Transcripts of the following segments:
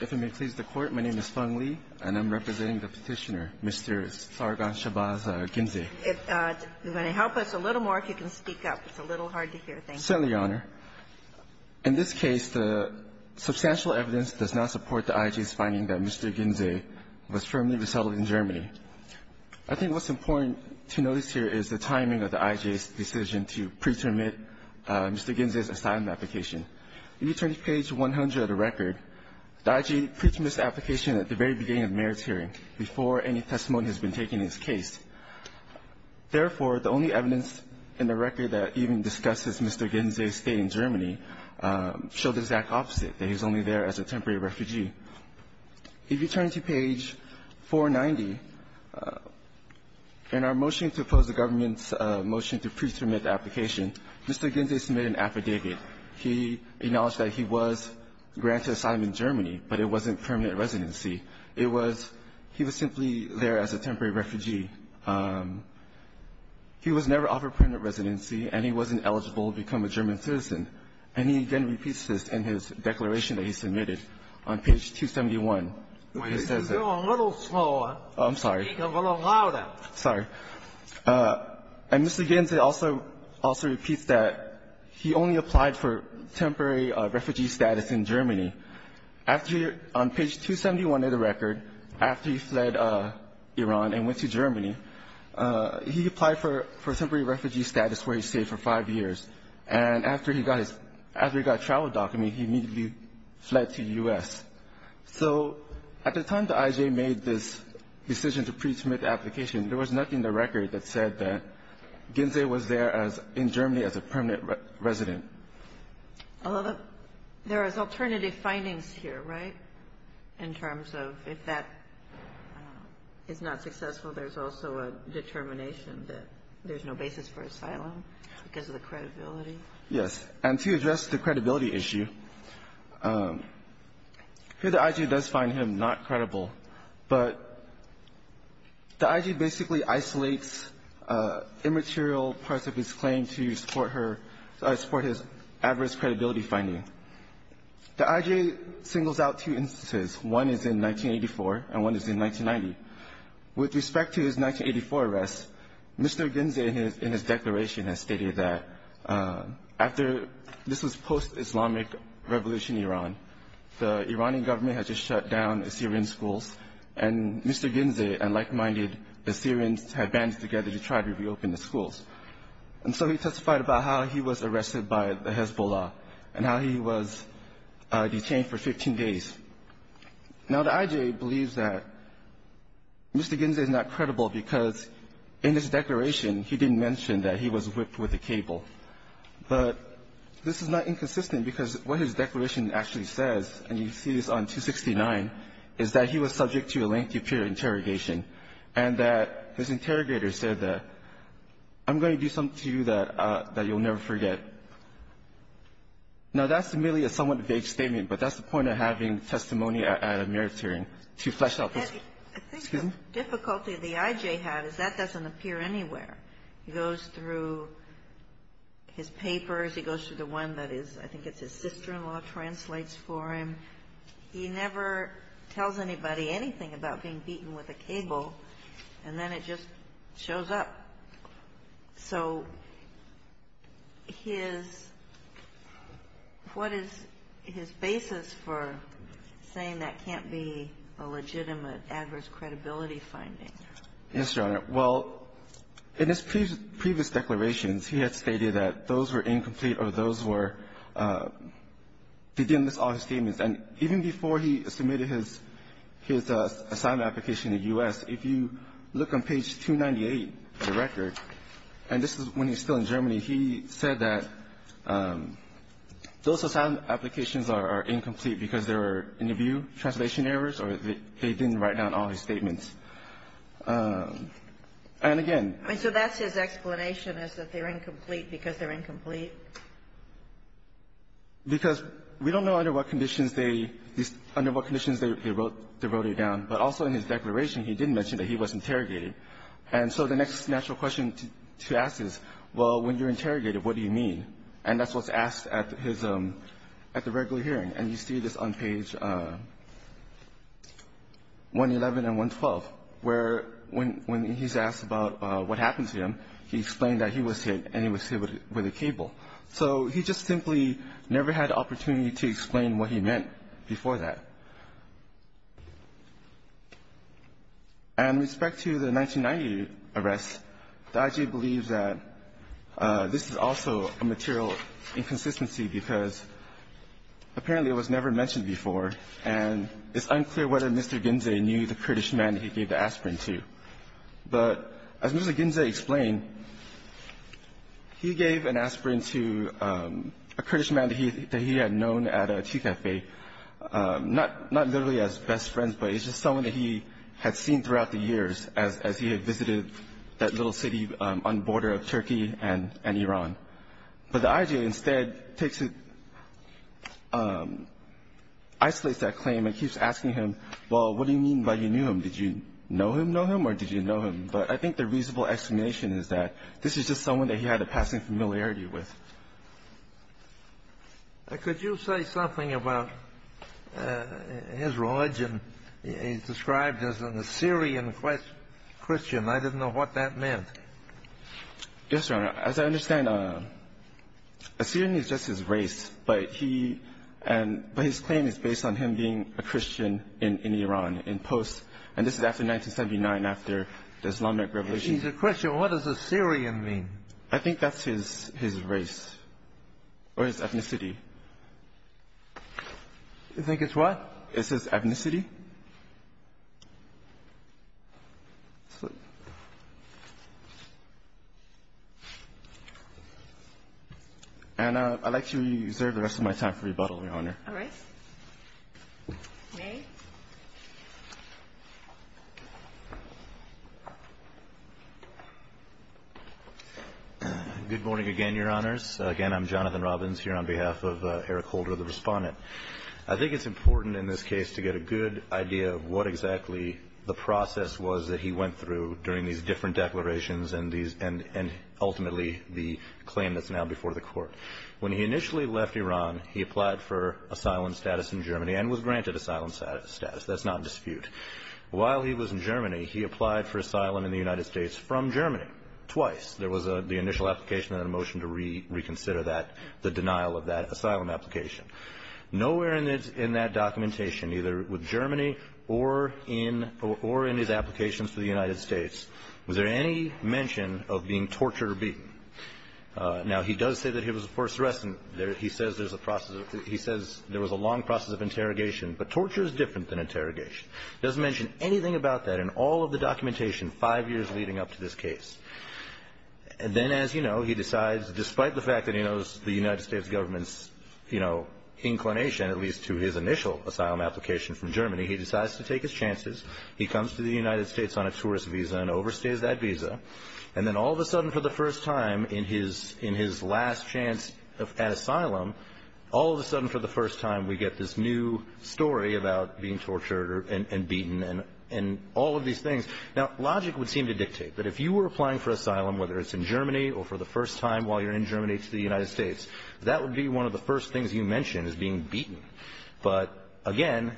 If it may please the Court, my name is Feng Li, and I'm representing the Petitioner, Mr. Sargon Shabazz Ginzeh. If you're going to help us a little more, if you can speak up. It's a little hard to hear. Thank you. Certainly, Your Honor. In this case, the substantial evidence does not support the IJ's finding that Mr. Ginzeh was firmly resettled in Germany. I think what's important to notice here is the timing of the IJ's decision to preterminate Mr. Ginzeh's asylum application. If you turn to page 100 of the record, the IJ pretermined this application at the very beginning of the mayor's hearing, before any testimony has been taken in this case. Therefore, the only evidence in the record that even discusses Mr. Ginzeh's stay in Germany show the exact opposite, that he's only there as a temporary refugee. If you turn to page 490, in our motion to oppose the government's motion to preterminate the application, Mr. Ginzeh submitted an affidavit. He acknowledged that he was granted asylum in Germany, but it wasn't permanent residency. It was he was simply there as a temporary refugee. He was never offered permanent residency, and he wasn't eligible to become a German citizen. And he again repeats this in his declaration that he submitted on page 271. refugee. He applied for temporary refugee status in Germany. On page 271 of the record, after he fled Iran and went to Germany, he applied for temporary refugee status where he stayed for five years. And after he got a travel document, he immediately fled to the U.S. So at the time the IJ made this decision to preterminate the application, there was nothing in the record that said that Ginzeh was there in Germany as a permanent resident. Alito, there is alternative findings here, right, in terms of if that is not successful, there's also a determination that there's no basis for asylum because of the credibility? Yes. And to address the credibility issue, here the IJ does find him not credible, but the IJ singles out two instances. One is in 1984, and one is in 1990. With respect to his 1984 arrest, Mr. Ginzeh in his declaration has stated that after this was post-Islamic Revolution Iran, the Iranian government had just shut down Assyrian schools, and Mr. Ginzeh and like-minded Assyrians had banded together to try to reopen the schools. And so he testified about how he was arrested by the Hezbollah and how he was detained for 15 days. Now, the IJ believes that Mr. Ginzeh is not credible because in his declaration he didn't mention that he was whipped with a cable, but this is not inconsistent because what his declaration actually says, and you see this on 269, is that he was subject to a lengthy peer interrogation and that his interrogator said, I'm going to do something to you that you'll never forget. Now, that's merely a somewhat vague statement, but that's the point of having testimony at a merit hearing, to flesh out this. I think the difficulty the IJ had is that doesn't appear anywhere. He goes through his papers. He goes through the one that is, I think it's his sister-in-law, translates for him. He never tells anybody anything about being beaten with a cable, and then it just shows up. So his — what is his basis for saying that can't be a legitimate adverse credibility finding? Yes, Your Honor. Well, in his previous declarations, he had stated that those were incomplete or those were — he didn't list all his statements. And even before he submitted his assignment application in the U.S., if you look on page 298 of the record, and this is when he's still in Germany, he said that those assignment applications are incomplete because there were interview translation errors or they didn't write down all his statements. And again — So his explanation is that they're incomplete because they're incomplete? Because we don't know under what conditions they — under what conditions they wrote it down. But also in his declaration, he didn't mention that he was interrogated. And so the next natural question to ask is, well, when you're interrogated, what do you mean? And that's what's asked at his — at the regular hearing. And you see this on page 111 and 112, where when he's asked about what happened to him, he explained that he was hit and he was hit with a cable. So he just simply never had the opportunity to explain what he meant before that. And with respect to the 1990 arrest, the IG believes that this is also a material inconsistency because apparently it was never mentioned before, and it's unclear whether Mr. Ginze knew the British man he gave the aspirin to. But as Mr. Ginze explained, he gave an aspirin to a Kurdish man that he had known at a tea cafe, not literally as best friends, but as just someone that he had seen throughout the years as he had visited that little city on the border of Turkey and Iran. But the IG instead takes it — isolates that claim and keeps asking him, well, what do you mean by you knew him? Did you know him, know him, or did you know him? But I think the reasonable explanation is that this is just someone that he had a passing familiarity with. Could you say something about his origin? He's described as an Assyrian Christian. I didn't know what that meant. Yes, Your Honor. As I understand, Assyrian is just his race, but he — but his claim is based on him being a Christian in Iran, in post — and this is after 1979, after the Islamic revolution. He's a Christian. What does Assyrian mean? I think that's his race or his ethnicity. You think it's what? It's his ethnicity. And I'd like to reserve the rest of my time for rebuttal, Your Honor. All right. May. Good morning again, Your Honors. Again, I'm Jonathan Robbins here on behalf of Eric Holder, the Respondent. I think it's important in this case to get a good idea of what exactly the process was that he went through during these different declarations and these — and ultimately the claim that's now before the Court. When he initially left Iran, he applied for asylum status in Germany and was granted asylum status. That's not in dispute. While he was in Germany, he applied for asylum in the United States from Germany, twice. There was the initial application and then a motion to reconsider that — the denial of that asylum application. Nowhere in that documentation, either with Germany or in his applications to the United States, was there any mention of being tortured or beaten. Now, he does say that he was a forceress, and he says there's a process — he says there was a long process of interrogation, but torture is different than interrogation. He doesn't mention anything about that in all of the documentation five years leading up to this case. And then, as you know, he decides, despite the fact that he knows the United States government's, you know, inclination, at least to his initial asylum application from Germany, he decides to take his chances. And then all of a sudden, for the first time in his last chance at asylum, all of a sudden, for the first time, we get this new story about being tortured and beaten and all of these things. Now, logic would seem to dictate that if you were applying for asylum, whether it's in Germany or for the first time while you're in Germany to the United States, that would be one of the first things you mention is being beaten. But again,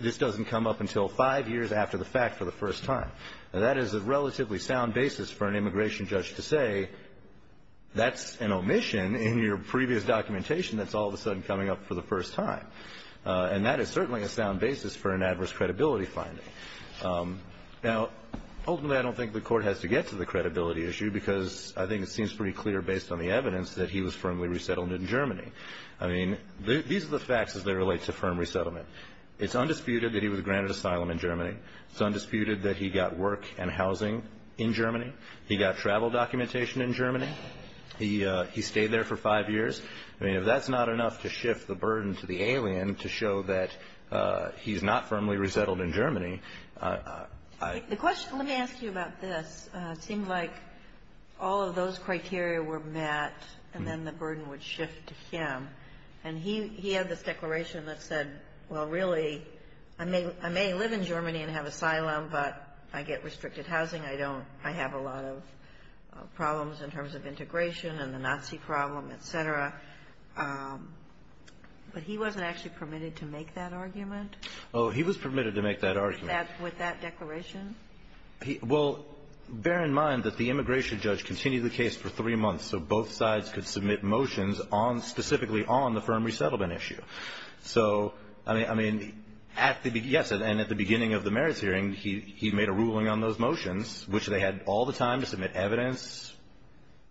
this doesn't come up until five years after the fact for the first time. Now, that is a relatively sound basis for an immigration judge to say, that's an omission in your previous documentation that's all of a sudden coming up for the first time. And that is certainly a sound basis for an adverse credibility finding. Now, ultimately, I don't think the Court has to get to the credibility issue because I think it seems pretty clear based on the evidence that he was firmly resettled in Germany. I mean, these are the facts as they relate to firm resettlement. It's undisputed that he got work and housing in Germany. He got travel documentation in Germany. He stayed there for five years. I mean, if that's not enough to shift the burden to the alien to show that he's not firmly resettled in Germany, I... The question, let me ask you about this. It seemed like all of those criteria were met and then the burden would shift to him. And he had this declaration that said, well, really, I may live in Germany and have asylum, but I get restricted housing. I don't. I have a lot of problems in terms of integration and the Nazi problem, et cetera. But he wasn't actually permitted to make that argument? Oh, he was permitted to make that argument. With that declaration? Well, bear in mind that the immigration judge continued the case for three months. So both sides could submit motions specifically on the firm resettlement issue. So, I mean, yes, and at the beginning of the merits hearing, he made a ruling on those motions, which they had all the time to submit evidence.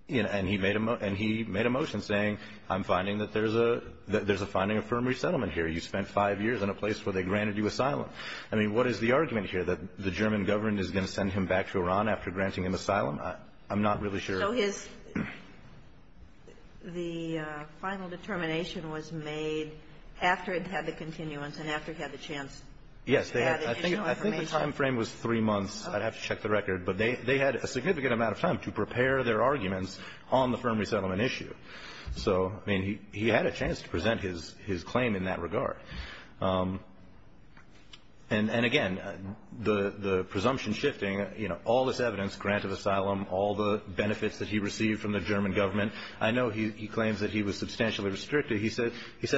And he made a motion saying, I'm finding that there's a finding of firm resettlement here. You spent five years in a place where they granted you asylum. I mean, what is the argument here? That the German government is going to send him back to Iran after granting him asylum? I'm not really sure. So his the final determination was made after it had the continuance and after it had the chance to add additional information? Yes, I think the time frame was three months. I'd have to check the record. But they had a significant amount of time to prepare their arguments on the firm resettlement issue. So, I mean, he had a chance to present his claim in that regard. And, again, the presumption shifting, you know, all this evidence, grant of asylum, all the benefits that he received from the German government. I know he claims that he was substantially restricted. He said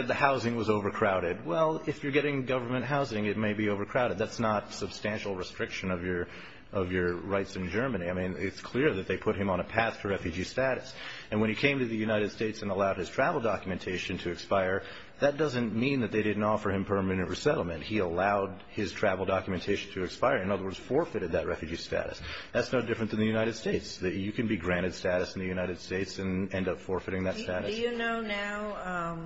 the housing was overcrowded. Well, if you're getting government housing, it may be overcrowded. That's not substantial restriction of your rights in Germany. I mean, it's clear that they put him on a path to refugee status. And when he came to the United States and allowed his travel documentation to expire, that doesn't mean that they didn't offer him permanent resettlement. He allowed his travel documentation to expire. In other words, forfeited that refugee status. That's no different than the United States. That you can be granted status in the United States and end up forfeiting that status. Do you know now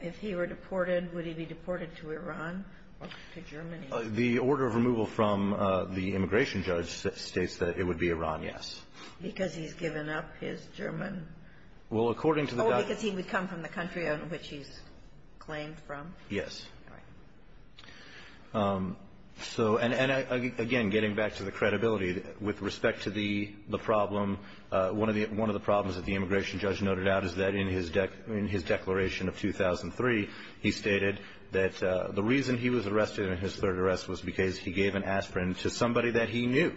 if he were deported, would he be deported to Iran or to Germany? The order of removal from the immigration judge states that it would be Iran, yes. Because he's given up his German. Well, according to the. Oh, because he would come from the country on which he's claimed from? Yes. All right. So, and again, getting back to the credibility, with respect to the problem, one of the problems that the immigration judge noted out is that in his declaration of 2003, he stated that the reason he was arrested in his third arrest was because he gave an aspirin to somebody that he knew.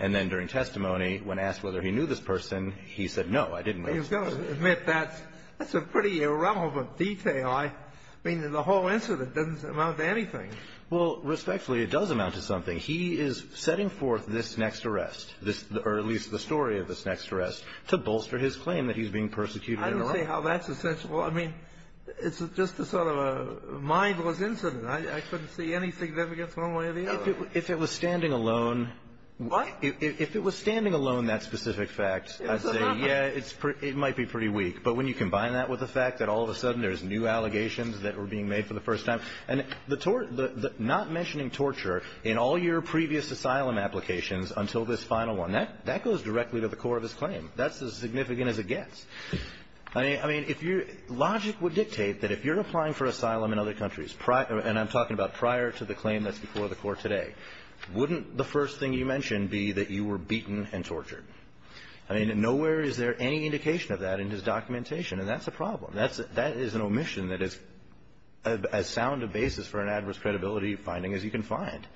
And then during testimony, when asked whether he knew this person, he said, no, I didn't know this person. You've got to admit, that's a pretty irrelevant detail. I mean, the whole incident doesn't amount to anything. Well, respectfully, it does amount to something. He is setting forth this next arrest, or at least the story of this next arrest, to bolster his claim that he's being persecuted in Iraq. I don't see how that's essential. I mean, it's just a sort of a mindless incident. I couldn't see anything that gets one way or the other. If it was standing alone. What? If it was standing alone, that specific fact, I'd say, yeah, it might be pretty weak. But when you combine that with the fact that all of a sudden there's new allegations that were being made for the first time. And the tort, the not mentioning torture in all your previous asylum applications until this final one, that goes directly to the core of his claim. That's as significant as it gets. I mean, if you're, logic would dictate that if you're applying for asylum in other countries, and I'm talking about prior to the claim that's before the court today. Wouldn't the first thing you mentioned be that you were beaten and tortured? I mean, nowhere is there any indication of that in his documentation. And that's a problem. That's, that is an omission that is as sound a basis for an adverse credibility finding as you can find.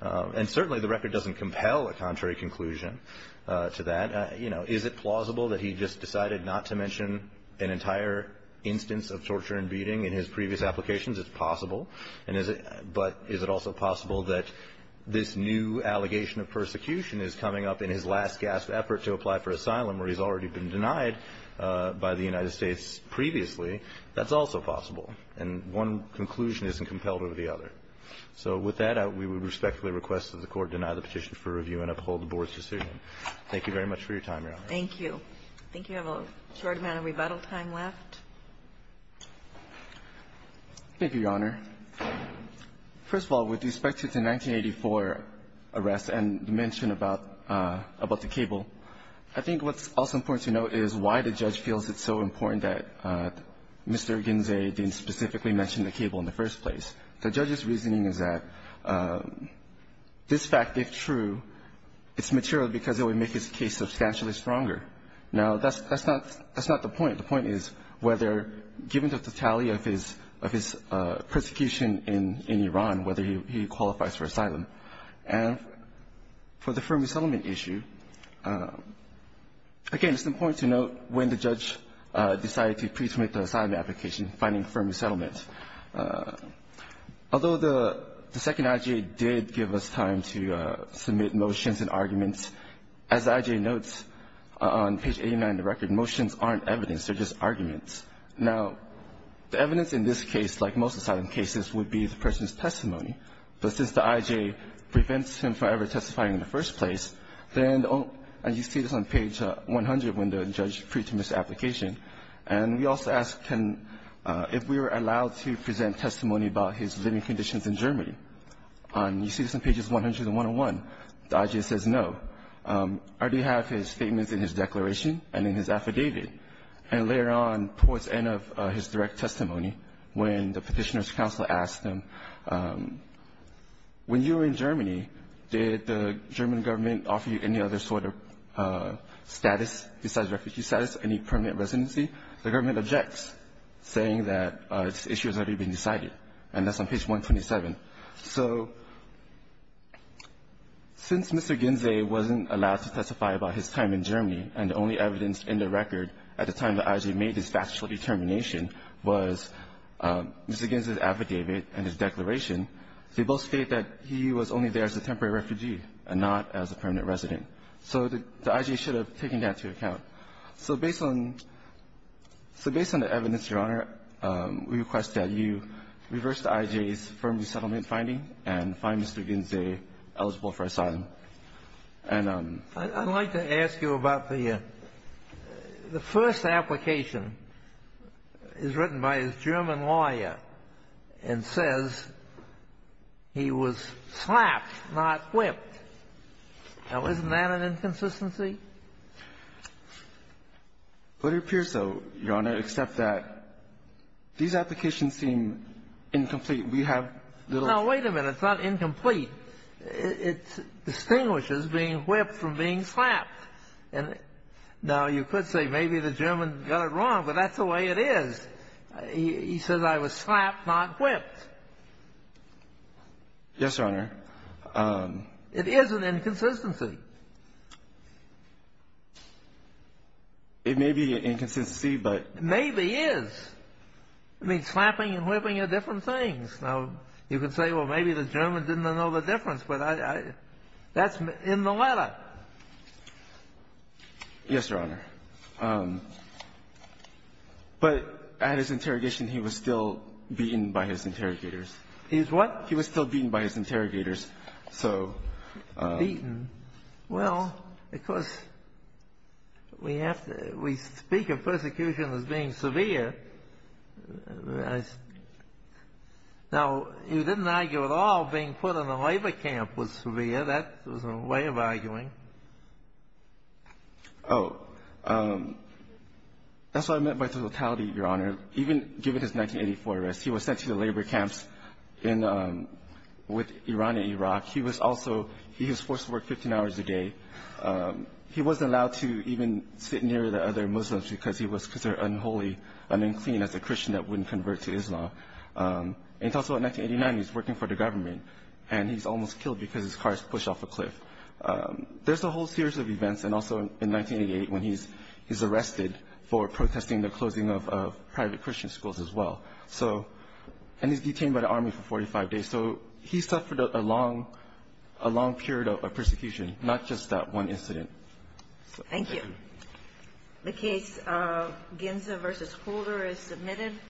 And certainly the record doesn't compel a contrary conclusion to that. You know, is it plausible that he just decided not to mention an entire instance of torture and beating in his previous applications? It's possible. And is it, but is it also possible that this new allegation of persecution is coming up in his last gasp effort to apply for asylum where he's already been denied by the United States previously, that's also possible. And one conclusion isn't compelled over the other. So with that, we would respectfully request that the court deny the petition for review and uphold the board's decision. Thank you very much for your time, Your Honor. Thank you. I think you have a short amount of rebuttal time left. Thank you, Your Honor. First of all, with respect to the 1984 arrest and the mention about, about the cable. I think what's also important to note is why the judge feels it's so important that Mr. Ginzey didn't specifically mention the cable in the first place. The judge's reasoning is that this fact, if true, it's material because it would make his case substantially stronger. Now, that's, that's not, that's not the point. The point is whether, given the totality of his, of his persecution in, in Iran, whether he, he qualifies for asylum. And for the firm resettlement issue, again, it's important to note when the judge decided to pre-submit the asylum application, finding firm resettlement. Although the, the second IJA did give us time to submit motions and arguments, as the IJA notes on page 89 of the record, motions aren't evidence, they're just arguments. Now, the evidence in this case, like most asylum cases, would be the person's testimony. But since the IJA prevents him from ever testifying in the first place, then, and you see this on page 100 when the judge pre-submits the application. And we also ask, can, if we were allowed to present testimony about his living conditions in Germany, and you see this on pages 100 and 101, the IJA says no. I already have his statements in his declaration and in his affidavit. And later on, towards the end of his direct testimony, when the petitioner's counsel asked him, when you were in Germany, did the German government offer you any other sort of status besides refugee status, any permanent residency? The government objects, saying that this issue has already been decided. And that's on page 127. So since Mr. Ginzey wasn't allowed to testify about his time in Germany, and the only evidence in the record at the time the IJA made this factual determination was Mr. Ginzey's affidavit and his declaration, they both state that he was only there as a temporary refugee and not as a permanent resident. So the IJA should have taken that into account. So based on the evidence, Your Honor, we request that you reverse the IJA's firm resettlement finding and find Mr. Ginzey eligible for asylum. And I'd like to ask you about the first application. It's written by a German lawyer and says he was slapped, not whipped. Now, isn't that an inconsistency? It appears so, Your Honor, except that these applications seem incomplete. We have little No, wait a minute. It's not incomplete. It distinguishes being whipped from being slapped. And now you could say maybe the German got it wrong, but that's the way it is. He says I was slapped, not whipped. Yes, Your Honor. It is an inconsistency. It may be an inconsistency, but. Maybe is. It means slapping and whipping are different things. Now, you could say, well, maybe the German didn't know the difference, but that's in the letter. Yes, Your Honor. But at his interrogation, he was still beaten by his interrogators. He was what? He was still beaten by his interrogators. So. Beaten? Well, of course, we have to, we speak of persecution as being severe. Now, you didn't argue at all being put in a labor camp was severe. That was a way of arguing. Oh, that's what I meant by the totality, Your Honor. Even given his 1984 arrest, he was sent to the labor camps in with Iran and Iraq. He was also, he was forced to work 15 hours a day. He wasn't allowed to even sit near the other Muslims because he was considered unholy and unclean as a Christian that wouldn't convert to Islam. And also in 1989, he's working for the government and he's almost killed because his car is pushed off a cliff. There's a whole series of events. And also in 1988, when he's, he's arrested for protesting the closing of private Christian schools as well. So, and he's detained by the army for 45 days. So he suffered a long, a long period of persecution, not just that one incident. Thank you. The case of Ginza versus Holder is submitted.